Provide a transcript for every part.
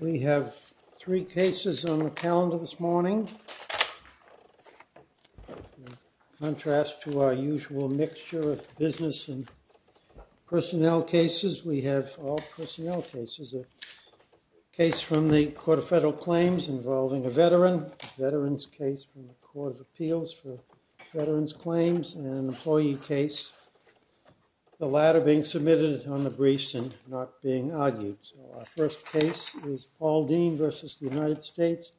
We have three cases on the calendar this morning, in contrast to our usual mixture of business and personnel cases. We have all personnel cases, a case from the Court of Federal Claims involving a veteran, a veteran's case from the Court of Appeals for veterans' claims, and an employee case, the latter being submitted on the briefs and not being argued. So our first case is Paul Dean v. United States,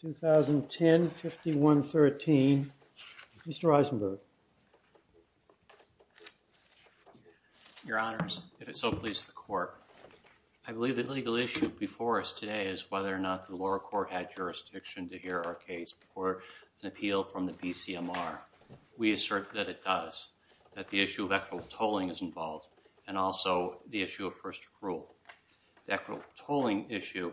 2010, 5113. Mr. Eisenberg. Your Honors, if it so pleases the Court, I believe the legal issue before us today is whether or not the lower court had jurisdiction to hear our case before an appeal from the BCMR. We assert that it does, that the issue of equitable tolling is involved, and also the issue of first accrual, the equitable tolling issue.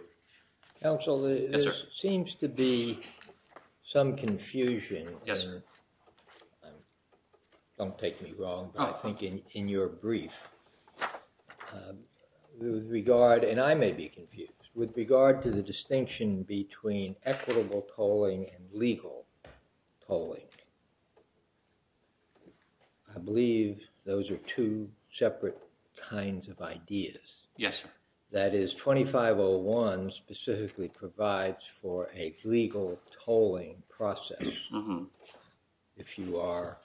Counsel, there seems to be some confusion, don't take me wrong, but I think in your brief, with regard, and I may be confused, with regard to the distinction between equitable tolling and first accrual, I believe those are two separate kinds of ideas. Yes, sir. That is, 2501 specifically provides for a legal tolling process if you are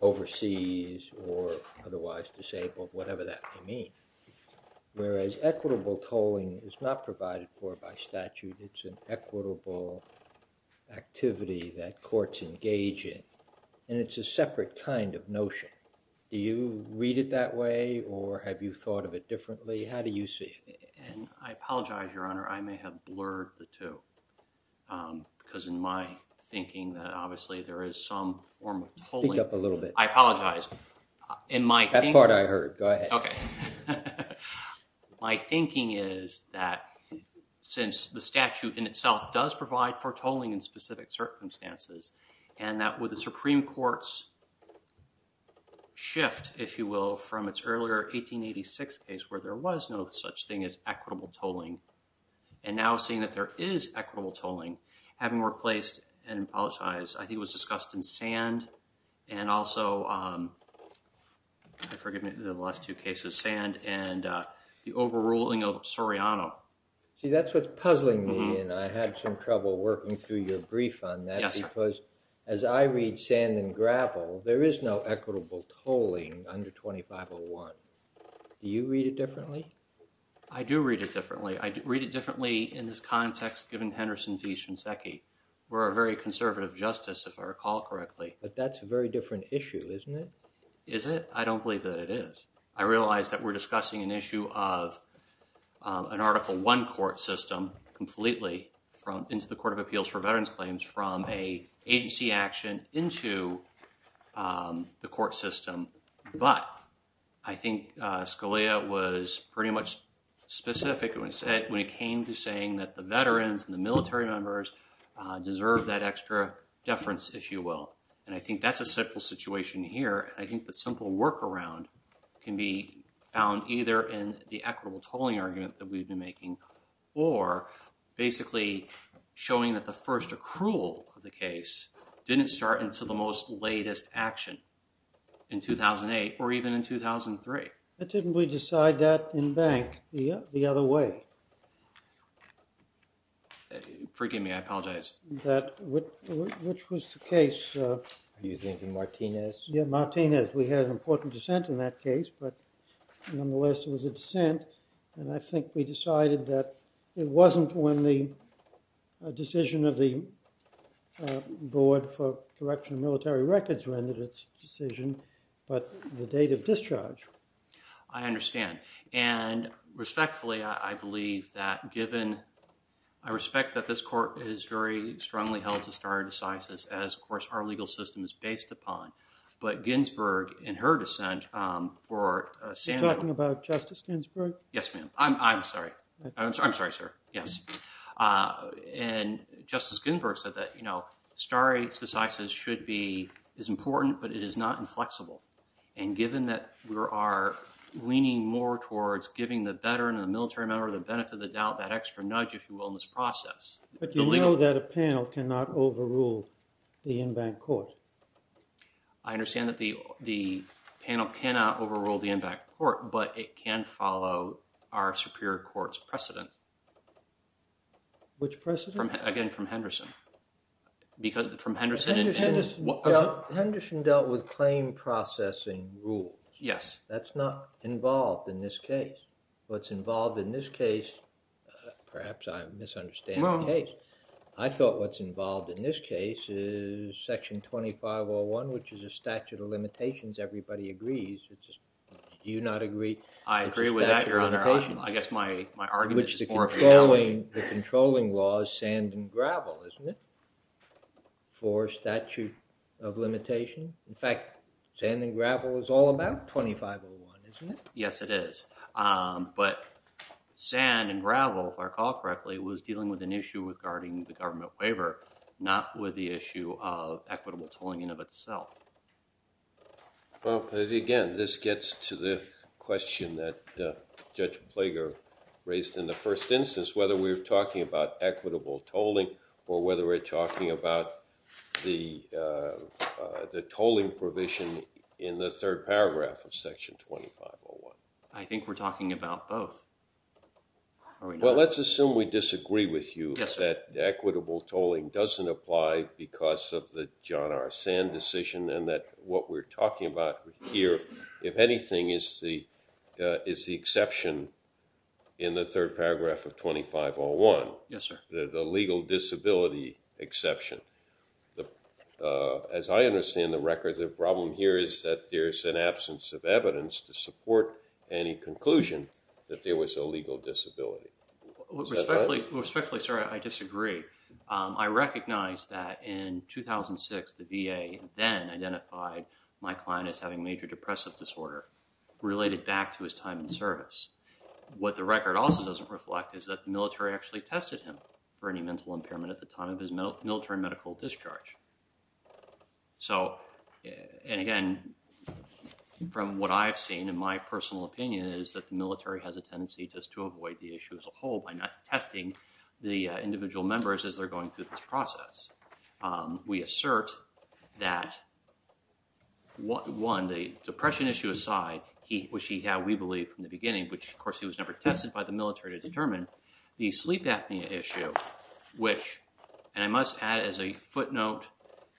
overseas or otherwise disabled, whatever that may mean, whereas equitable tolling is not provided for by statute, it's an equitable activity that courts engage in, and it's a separate kind of notion. Do you read it that way, or have you thought of it differently? How do you see it? And I apologize, Your Honor, I may have blurred the two, because in my thinking that obviously there is some form of tolling. Speak up a little bit. I apologize, in my thinking. That part I heard, go ahead. Okay. My thinking is that since the statute in itself does provide for tolling in specific circumstances, and that with the Supreme Court's shift, if you will, from its earlier 1886 case where there was no such thing as equitable tolling, and now seeing that there is equitable tolling, having replaced, and I apologize, I think it was discussed in Sand, and also, I forget the last two cases, Sand and the overruling of Soriano. See, that's what's puzzling me, and I had some trouble working through your brief on that, because as I read Sand and Gravel, there is no equitable tolling under 2501. Do you read it differently? I do read it differently. I read it differently in this context given Henderson v. Shinseki. We're a very conservative justice, if I recall correctly. But that's a very different issue, isn't it? Is it? I don't believe that it is. I realize that we're discussing an issue of an Article I court system completely from into the Court of Appeals for Veterans Claims from a agency action into the court system, but I think Scalia was pretty much specific when it came to saying that the veterans and the military members deserve that extra deference, if you will. I think that's a simple situation here. I think the simple workaround can be found either in the equitable tolling argument that we've been making or basically showing that the first accrual of the case didn't start until the most latest action in 2008 or even in 2003. But didn't we decide that in Bank the other way? Forgive me. I apologize. That which was the case? Are you thinking Martinez? Yeah, Martinez. We had an important dissent in that case, but nonetheless it was a dissent, and I think we decided that it wasn't when the decision of the board for correction of military records rendered its decision, but the date of discharge. I understand. And respectfully, I believe that given, I respect that this court is very strongly held to stare decisis as, of course, our legal system is based upon, but Ginsburg, in her dissent for Samuel- You're talking about Justice Ginsburg? Yes, ma'am. I'm sorry. I'm sorry, sir. Yes. And Justice Ginsburg said that stare decisis should be, is important, but it is not inflexible. And given that we are leaning more towards giving the veteran and the military member the benefit of the doubt, that extra nudge, if you will, in this process- But you know that a panel cannot overrule the Inbank Court. I understand that the panel cannot overrule the Inbank Court, but it can follow our superior court's precedent. Which precedent? Again, from Henderson. Because from Henderson- Henderson dealt with claim processing rules. Yes. That's not involved in this case. What's involved in this case, perhaps I'm misunderstanding the case. I thought what's involved in this case is section 2501, which is a statute of limitations. Everybody agrees. Do you not agree? I agree with that, Your Honor. I guess my argument is more of an analogy. The controlling law is sand and gravel, isn't it? For statute of limitation. In fact, sand and gravel is all about 2501, isn't it? Yes, it is. But sand and gravel, if I recall correctly, was dealing with an issue regarding the government waiver, not with the issue of equitable tolling in of itself. Well, again, this gets to the question that Judge Plager raised in the first instance, whether we're talking about equitable tolling or whether we're talking about the tolling provision in the third paragraph of section 2501. I think we're talking about both. Well, let's assume we disagree with you that equitable tolling doesn't apply because of the John R. Sand decision and that what we're talking about here, if anything, is the exception in the third paragraph of 2501. Yes, sir. The legal disability exception. As I understand the record, the problem here is that there's an absence of evidence to support any conclusion that there was a legal disability. Respectfully, sir, I disagree. I recognize that in 2006, the VA then identified my client as having major depressive disorder related back to his time in service. What the record also doesn't reflect is that the military actually tested him for any mental impairment at the time of his military medical discharge. And again, from what I've seen, in my personal opinion, is that the military has a tendency just to avoid the issue as a whole by not testing the individual members as they're going through this process. We assert that, one, the depression issue aside, which he had, we believe, from the records, he was never tested by the military to determine the sleep apnea issue, which, and I must add as a footnote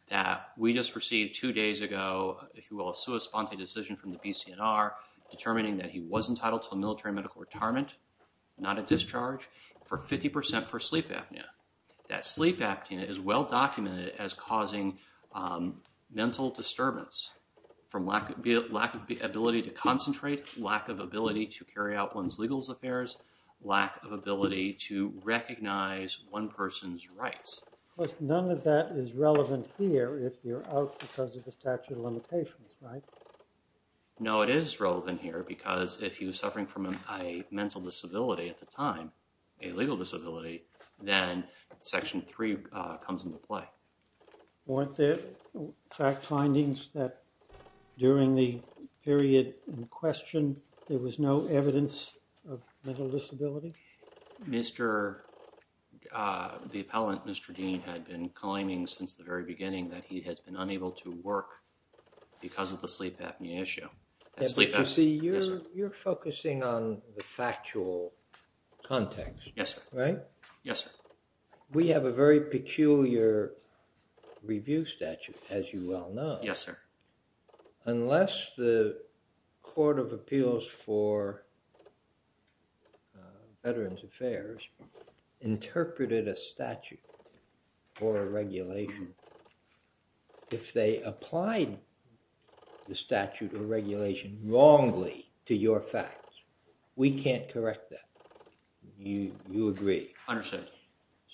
that we just received two days ago, if you will, a sui sponte decision from the BCNR determining that he was entitled to a military medical retirement, not a discharge, for 50% for sleep apnea. That sleep apnea is well documented as causing mental disturbance from lack of ability to recognize one person's rights. None of that is relevant here if you're out because of the statute of limitations, right? No, it is relevant here because if he was suffering from a mental disability at the time, a legal disability, then section three comes into play. Weren't there fact findings that during the period in question, there was no evidence of mental disability? The appellant, Mr. Dean, had been claiming since the very beginning that he has been unable to work because of the sleep apnea issue. You're focusing on the factual context, right? Yes, sir. We have a very peculiar review statute, as you well know. Yes, sir. Unless the Court of Appeals for Veterans Affairs interpreted a statute or a regulation, if they applied the statute or regulation wrongly to your facts, we can't correct that. You agree? Understood.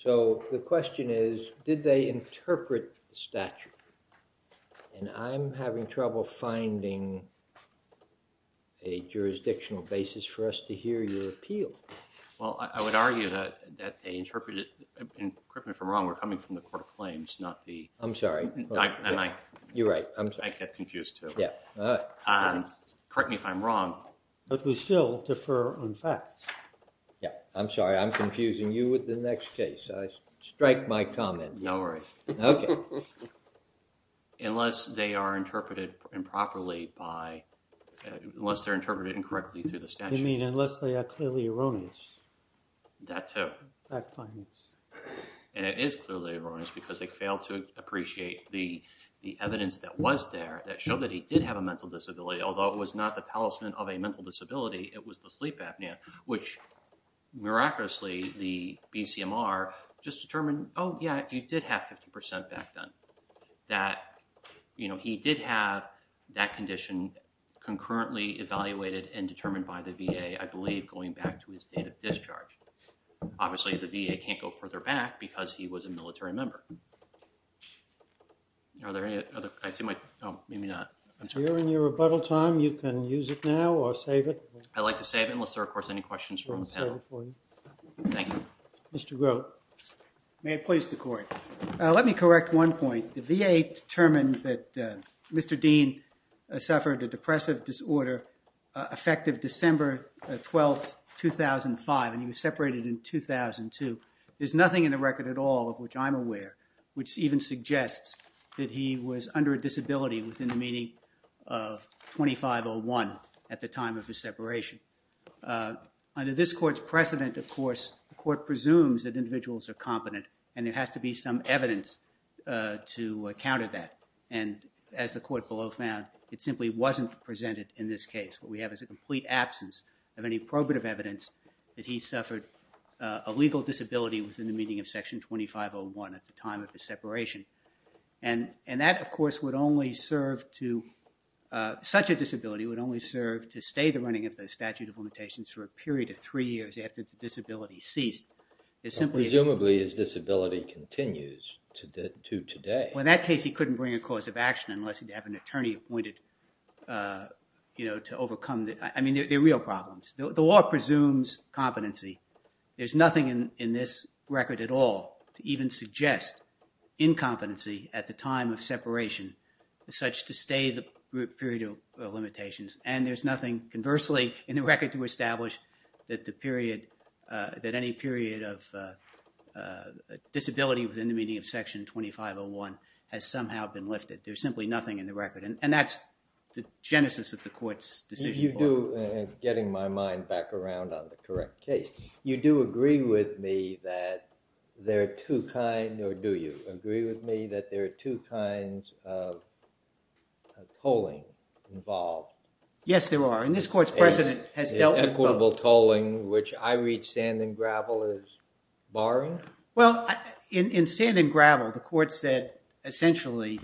So the question is, did they interpret the statute? And I'm having trouble finding a jurisdictional basis for us to hear your appeal. Well, I would argue that they interpreted it incorrectly or wrongly coming from the Court of Claims, not the... I'm sorry. You're right, I'm sorry. I get confused too. Yeah. Correct me if I'm wrong. But we still defer on facts. Yeah, I'm sorry. I'm confusing you with the next case. I strike my comment. No worries. Okay. Unless they are interpreted improperly by... Unless they're interpreted incorrectly through the statute. You mean, unless they are clearly erroneous? That too. Fact findings. And it is clearly erroneous because they failed to appreciate the evidence that was there that showed that he did have a mental disability, although it was not the talisman of a mental disability, it was the sleep apnea, which miraculously the BCMR just determined, oh, yeah, he did have 50% back then. That, you know, he did have that condition concurrently evaluated and determined by the VA, I believe, going back to his date of discharge. Obviously, the VA can't go further back because he was a military member. Are there any other... I see my... Oh, maybe not. During your rebuttal time, you can use it now or save it. I'd like to save it unless there are, of course, any questions from the panel. We'll save it for you. Thank you. Mr. Grote. May it please the court. Let me correct one point. The VA determined that Mr. Dean suffered a depressive disorder effective December 12, 2005, and he was separated in 2002. There's nothing in the record at all of which I'm aware, which even suggests that he was under a disability within the meaning of 2501 at the time of his separation. Under this court's precedent, of course, the court presumes that individuals are competent, and there has to be some evidence to counter that. And as the court below found, it simply wasn't presented in this case. What we have is a complete absence of any probative evidence that he suffered a legal disability within the meaning of Section 2501 at the time of his separation. And that, of course, would only serve to—such a disability would only serve to stay the running of the statute of limitations for a period of three years after the disability ceased. Presumably, his disability continues to today. Well, in that case, he couldn't bring a cause of action unless he'd have an attorney appointed to overcome—I mean, they're real problems. The law presumes competency. There's nothing in this record at all to even suggest incompetency at the time of separation such to stay the period of limitations. And there's nothing conversely in the record to establish that the period—that any period of disability within the meaning of Section 2501 has somehow been lifted. There's simply nothing in the record. And that's the genesis of the court's decision. Getting my mind back around on the correct case, you do agree with me that there are two kinds—or do you agree with me that there are two kinds of tolling involved? Yes, there are. And this court's president has dealt with both. Equitable tolling, which I read sand and gravel as barring? Well, in sand and gravel, the court said essentially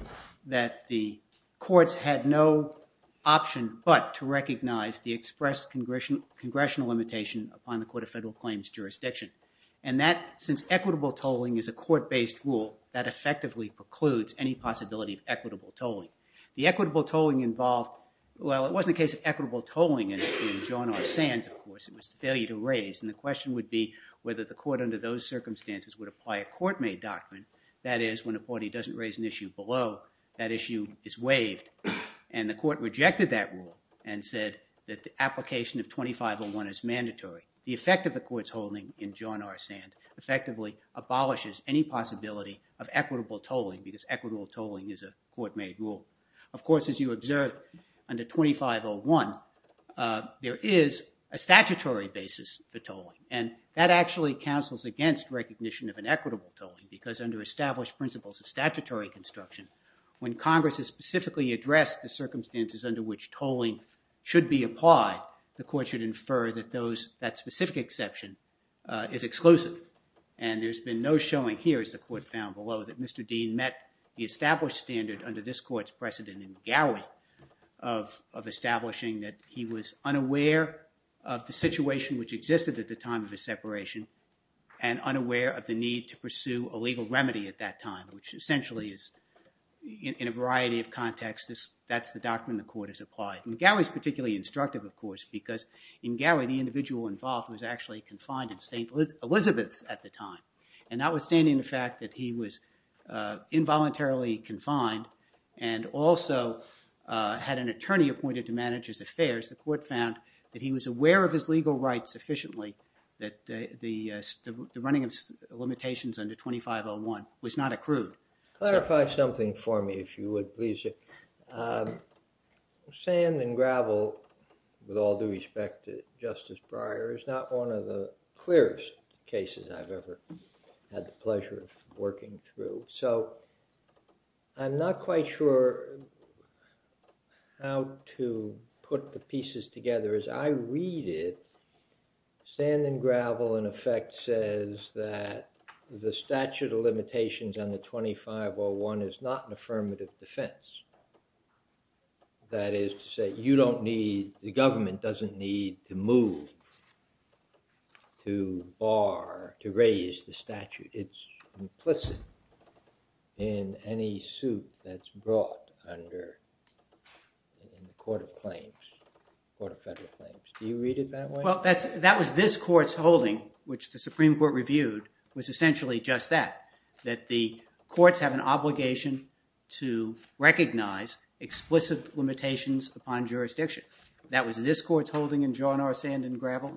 that the courts had no option but to recognize the express congressional limitation upon the Court of Federal Claims jurisdiction. And that, since equitable tolling is a court-based rule, that effectively precludes any possibility of equitable tolling. The equitable tolling involved—well, it wasn't a case of equitable tolling in John R. Sands, of course. It was the failure to raise. And the question would be whether the court under those circumstances would apply a court-made doctrine. That is, when a party doesn't raise an issue below, that issue is waived. And the court rejected that rule and said that the application of 2501 is mandatory. The effect of the court's holding in John R. Sands effectively abolishes any possibility of equitable tolling because equitable tolling is a court-made rule. Of course, as you observed under 2501, there is a statutory basis for tolling. And that actually counsels against recognition of an equitable tolling because under established principles of statutory construction, when Congress has specifically addressed the circumstances under which tolling should be applied, the court should infer that those—that specific exception is exclusive. And there's been no showing here, as the court found below, that Mr. Dean met the established standard under this court's precedent in Gowie of establishing that he was unaware of the situation which existed at the time of his separation and unaware of the need to pursue a legal remedy at that time, which essentially is, in a variety of contexts, that's the doctrine the court has applied. And Gowie's particularly instructive, of course, because in Gowie, the individual involved was actually confined in St. Elizabeth's at the time. And notwithstanding the fact that he was involuntarily confined and also had an attorney appointed to manage his affairs, the court found that he was aware of his legal rights sufficiently, that the running of limitations under 2501 was not accrued. Clarify something for me, if you would, please. Sand and gravel, with all due respect to Justice Breyer, is not one of the clearest cases I've ever had the pleasure of working through. So I'm not quite sure how to put the pieces together. As I read it, sand and gravel, in effect, says that the statute of limitations under 2501 is not an affirmative defense. That is to say, you don't need, the government doesn't need to move to bar, to raise the statute. It's implicit in any suit that's brought under the Court of Claims, Court of Federal Claims. Do you read it that way? Well, that was this Court's holding, which the Supreme Court reviewed, was essentially just that, that the courts have an obligation to recognize explicit limitations upon jurisdiction. That was this Court's holding in John R. Sand and gravel.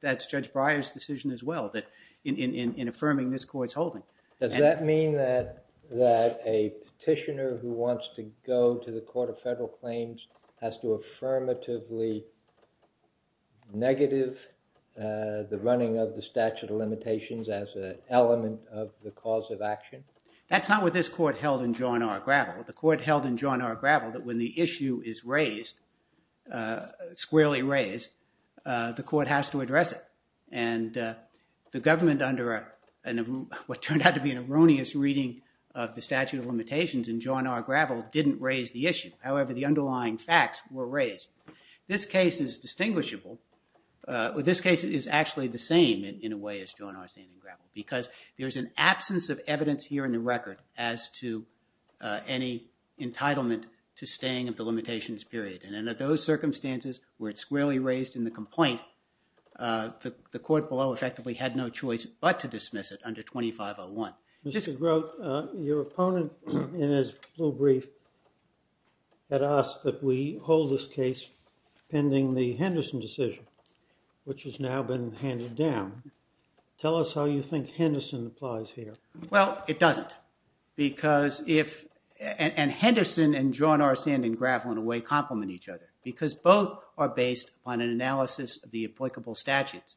That's Judge Breyer's decision as well, that in affirming this Court's holding. Does that mean that a petitioner who wants to go to the Court of Federal Claims has to affirmatively negative the running of the statute of limitations as an element of the cause of action? That's not what this Court held in John R. Gravel. The Court held in John R. Gravel that when the issue is raised, squarely raised, the Court has to address it. And the government, under what turned out to be an erroneous reading of the statute of limitations in John R. Gravel, didn't raise the issue. However, the underlying facts were raised. This case is distinguishable. This case is actually the same, in a way, as John R. Sand and gravel, because there's an absence of evidence here in the record as to any entitlement to staying of the limitations period. And in those circumstances, where it's squarely raised in the complaint, the Court below effectively had no choice but to dismiss it under 2501. Mr. Grote, your opponent in his little brief had asked that we hold this case pending the Henderson decision, which has now been handed down. Tell us how you think Henderson applies here. Well, it doesn't. And Henderson and John R. Sand and gravel, in a way, complement each other, because both are based on an analysis of the applicable statutes.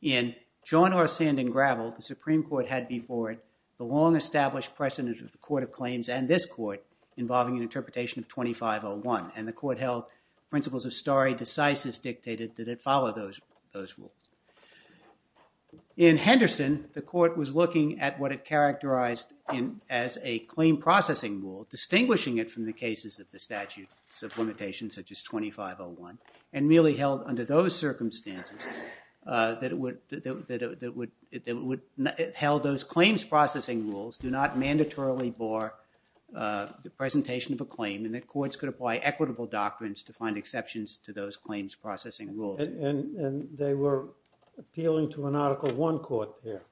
In John R. Sand and gravel, the Supreme Court had before it the long-established precedent of the Court of Claims and this Court involving an interpretation of 2501. And the Court held principles of stare decisis dictated that it follow those rules. In Henderson, the Court was looking at what it characterized as a claim processing rule, distinguishing it from the cases of the statutes of limitation, such as 2501, and really held under those circumstances that it would held those claims processing rules do not mandatorily bar the presentation of a claim and that courts could apply equitable doctrines to find exceptions to those claims processing rules. And they were appealing to an Article I court there,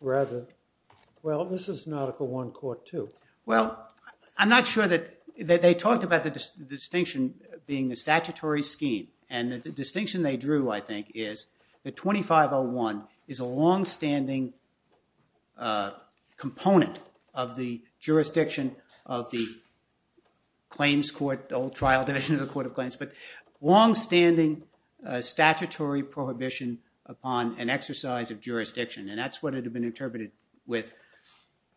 rather. Well, this is an Article I court, too. Well, I'm not sure that they talked about the distinction being the statutory scheme. And the distinction they drew, I think, is that 2501 is a longstanding component of the jurisdiction of the claims court, old trial division of the Court of Claims. But longstanding statutory prohibition upon an exercise of jurisdiction. And that's what it had been interpreted with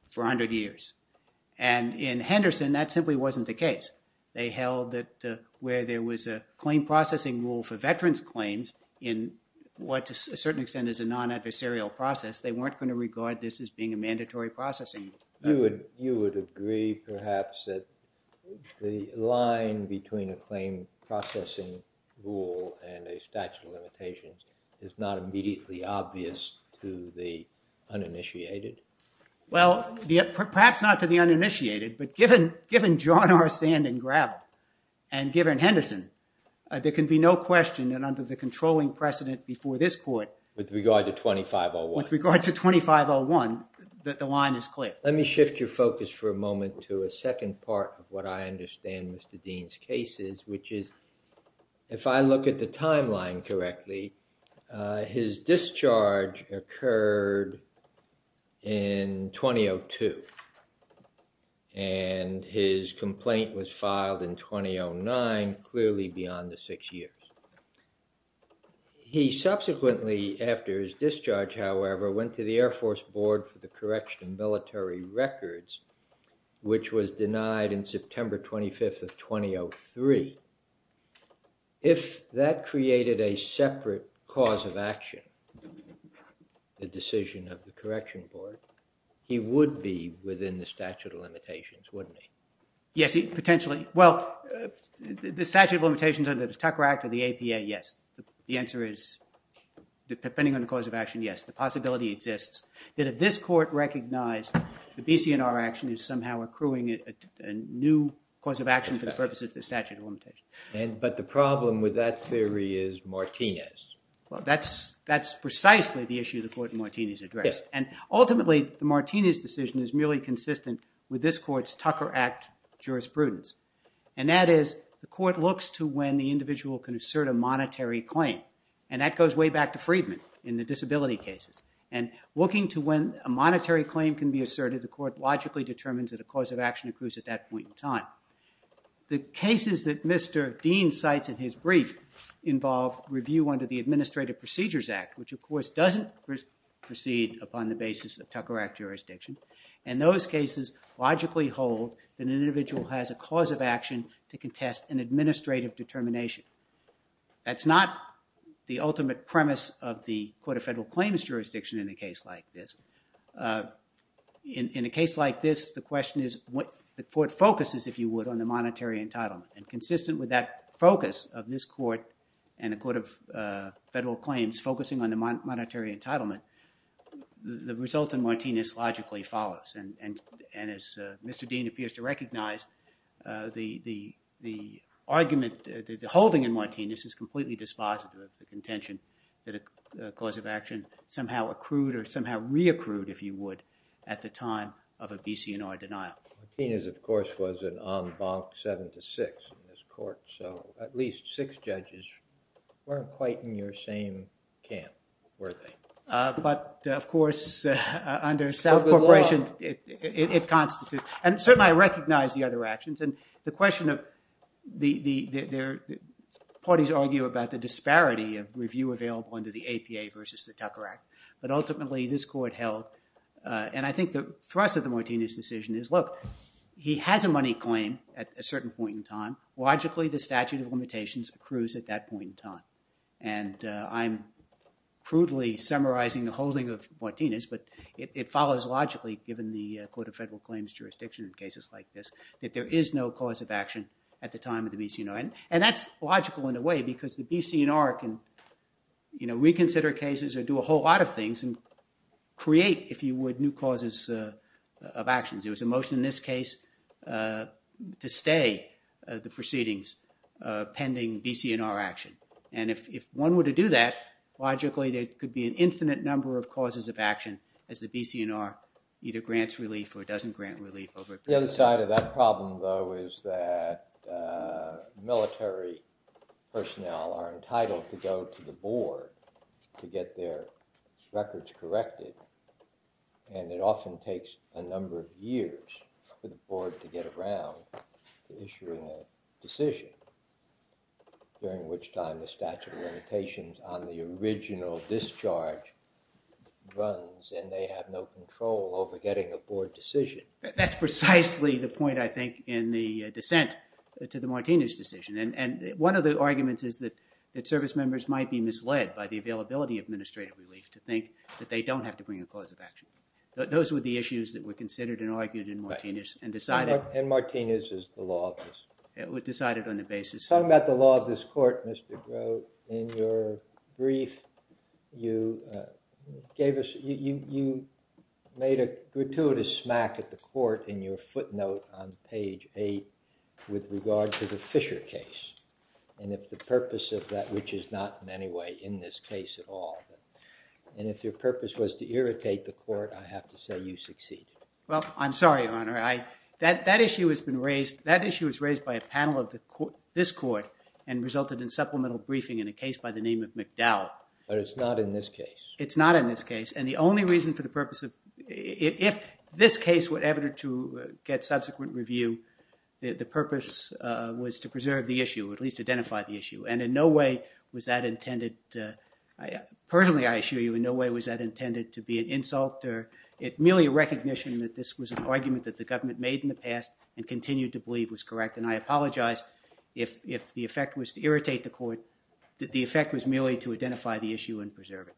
for 100 years. And in Henderson, that simply wasn't the case. They held that where there was a claim processing rule for veterans' claims in what, to a certain extent, is a non-adversarial process, they weren't going to regard this as being a mandatory processing. You would agree, perhaps, that the line between a claim processing rule and a statute of limitations is not immediately obvious to the uninitiated? Well, perhaps not to the uninitiated. But given John R. Sand and Gravel, and given Henderson, there can be no question that under the controlling precedent before this court. With regard to 2501. The line is clear. Let me shift your focus for a moment to a second part of what I understand Mr. Dean's case is. Which is, if I look at the timeline correctly, his discharge occurred in 2002. And his complaint was filed in 2009, clearly beyond the six years. He subsequently, after his discharge, however, went to the Air Force Board for the Correction and Military Records, which was denied in September 25th of 2003. If that created a separate cause of action, the decision of the Correction Board, he would be within the statute of limitations, wouldn't he? Yes, potentially. Well, the statute of limitations under the Tucker Act or the APA, yes. The answer is, depending on the cause of action, yes. The possibility exists that if this court recognized the BCNR action is somehow accruing a new cause of action for the purposes of the statute of limitations. But the problem with that theory is Martinez. Well, that's precisely the issue the court in Martinez addressed. And ultimately, the Martinez decision is merely consistent with this court's Tucker Act jurisprudence. And that is, the court looks to when the individual can assert a monetary claim. And that goes way back to Friedman in the disability cases. And looking to when a monetary claim can be asserted, the court logically determines that a cause of action accrues at that point in time. The cases that Mr. Dean cites in his brief involve review under the Administrative Procedures Act, which, of course, doesn't proceed upon the basis of Tucker Act jurisdiction. And those cases logically hold that an individual has a cause of action to contest an administrative determination. That's not the ultimate premise of the Court of Federal Claims jurisdiction in a case like this. In a case like this, the question is, the court focuses, if you would, on the monetary entitlement. And consistent with that focus of this court and the Court of Federal Claims focusing on And as Mr. Dean appears to recognize, the argument, the holding in Martinez is completely dispositive of the contention that a cause of action somehow accrued or somehow re-accrued, if you would, at the time of a BC&R denial. Martinez, of course, was an en banc seven to six in this court. So at least six judges weren't quite in your same camp, were they? But of course, under South Corporation, it constitutes. And certainly, I recognize the other actions. And the question of the parties argue about the disparity of review available under the APA versus the Tucker Act. But ultimately, this court held. And I think the thrust of the Martinez decision is, look, he has a money claim at a certain point in time. And I'm crudely summarizing the holding of Martinez. But it follows logically, given the Court of Federal Claims jurisdiction in cases like this, that there is no cause of action at the time of the BC&R. And that's logical, in a way, because the BC&R can reconsider cases or do a whole lot of things and create, if you would, new causes of actions. There was a motion in this case to stay the proceedings pending BC&R action. And if one were to do that, logically, there could be an infinite number of causes of action as the BC&R either grants relief or doesn't grant relief over a period of time. The other side of that problem, though, is that military personnel are entitled to go to the board to get their records corrected. And it often takes a number of years for the board to get around to issuing a decision, during which time the statute of limitations on the original discharge runs. And they have no control over getting a board decision. That's precisely the point, I think, in the dissent to the Martinez decision. And one of the arguments is that service members might be misled by the availability of administrative relief to think that they don't have to bring a cause of action. Those were the issues that were considered and argued in Martinez and decided. And Martinez is the law of this. It was decided on a basis. Talking about the law of this court, Mr. Groh, in your brief, you gave us, you made a gratuitous smack at the court in your footnote on page eight with regard to the Fisher case. And if the purpose of that, which is not in any way in this case at all, and if your purpose was to irritate the court, I have to say you succeeded. Well, I'm sorry, Your Honor. That issue has been raised, that issue was raised by a panel of this court and resulted in supplemental briefing in a case by the name of McDowell. But it's not in this case. It's not in this case. And the only reason for the purpose of, if this case were ever to get subsequent review, the purpose was to preserve the issue, at least identify the issue. And in no way was that intended to, personally, I assure you, in no way was that intended to be an insult or merely a recognition that this was an argument that the government made in the past and continued to believe was correct. And I apologize if the effect was to irritate the court, that the effect was merely to identify the issue and preserve it.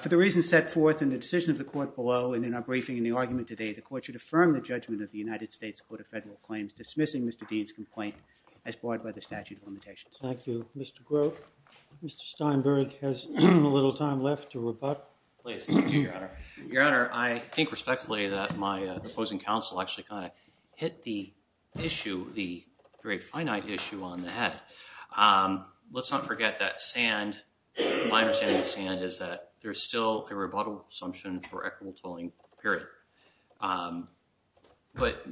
For the reasons set forth in the decision of the court below and in our briefing in the argument today, the court should affirm the judgment of the United States Court of Federal Claims dismissing Mr. Dean's complaint as barred by the statute of limitations. Thank you, Mr. Groh. Mr. Steinberg has a little time left to rebut. Please, thank you, Your Honor. Your Honor, I think respectfully that my opposing counsel actually kind of hit the issue, the very finite issue, on the head. Let's not forget that sand, my understanding of sand, is that there is still a rebuttal assumption for equitable tolling, period. But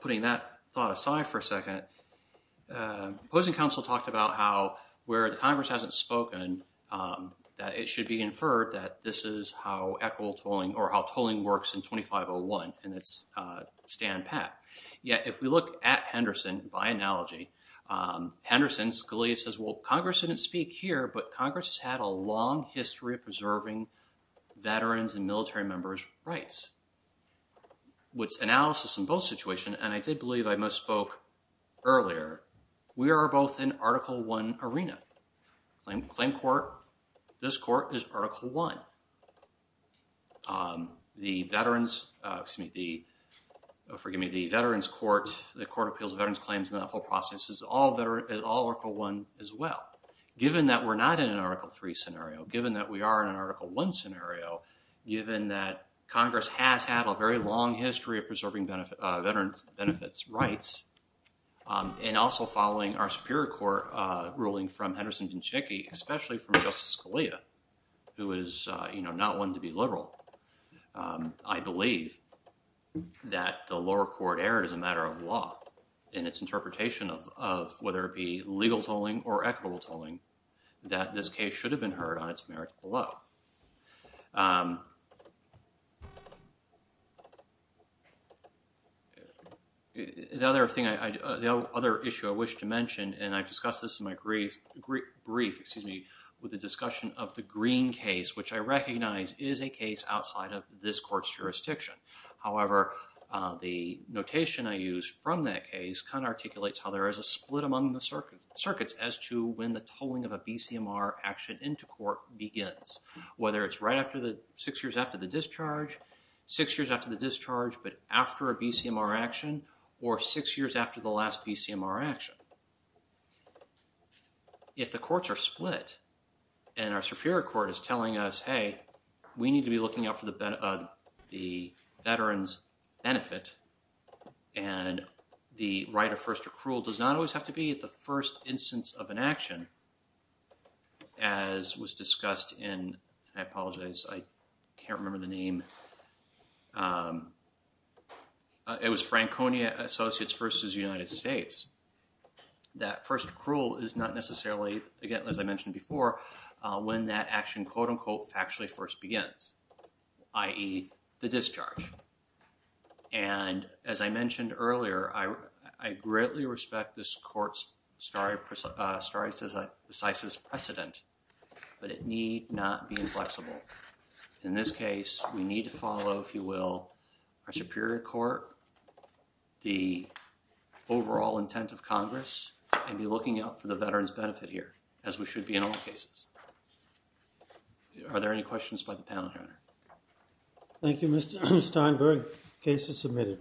putting that thought aside for a second, the opposing counsel talked about how where the Congress hasn't spoken, that it should be inferred that this is how equitable tolling, or how tolling works in 2501, and it's Stan Pack. Yet, if we look at Henderson, by analogy, Henderson, Scalia says, well, Congress didn't speak here, but Congress has had a long history of preserving veterans' and military members' rights. With analysis in both situations, and I did believe I misspoke earlier, we are both in Article I arena. Claim court, this court is Article I. The veterans, excuse me, the, forgive me, the veterans court, the Court of Appeals of Veterans Claims and that whole process is all Article I as well. Given that we're not in an Article III scenario, given that we are in an Article I scenario, given that Congress has had a very long history of preserving veterans' benefits rights, and also following our Superior Court ruling from Henderson and Chinckey, especially from Justice Scalia, who is, you know, not one to be liberal. I believe that the lower court erred as a matter of law in its interpretation of whether it be legal tolling or equitable tolling, that this case should have been heard on its merits below. The other thing I, the other issue I wish to mention, and I've discussed this in my brief, excuse me, with the discussion of the Green case, which I recognize is a case outside of this court's jurisdiction. However, the notation I used from that case kind of articulates how there is a split among the circuits as to when the tolling of a BCMR action into court begins, whether it's right after the, six years after the discharge, six years after the discharge, but after a BCMR action, or six years after the last BCMR action. If the courts are split and our Superior Court is telling us, hey, we need to be looking out for the veterans' benefit, and the right of first accrual does not always have to be at the first instance of an action, as was discussed in, I apologize, I can't remember the name. It was Franconia Associates versus United States. That first accrual is not necessarily, again, as I mentioned before, when that action, quote unquote, factually first begins, i.e. the discharge. And as I mentioned earlier, I greatly respect this court's stare decisis precedent, but it need not be inflexible. In this case, we need to follow, if you will, our Superior Court, the overall intent of Congress, and be looking out for the veterans' benefit here, as we should be in all cases. Are there any questions by the panel here? Thank you, Mr. Steinberg. Case is submitted.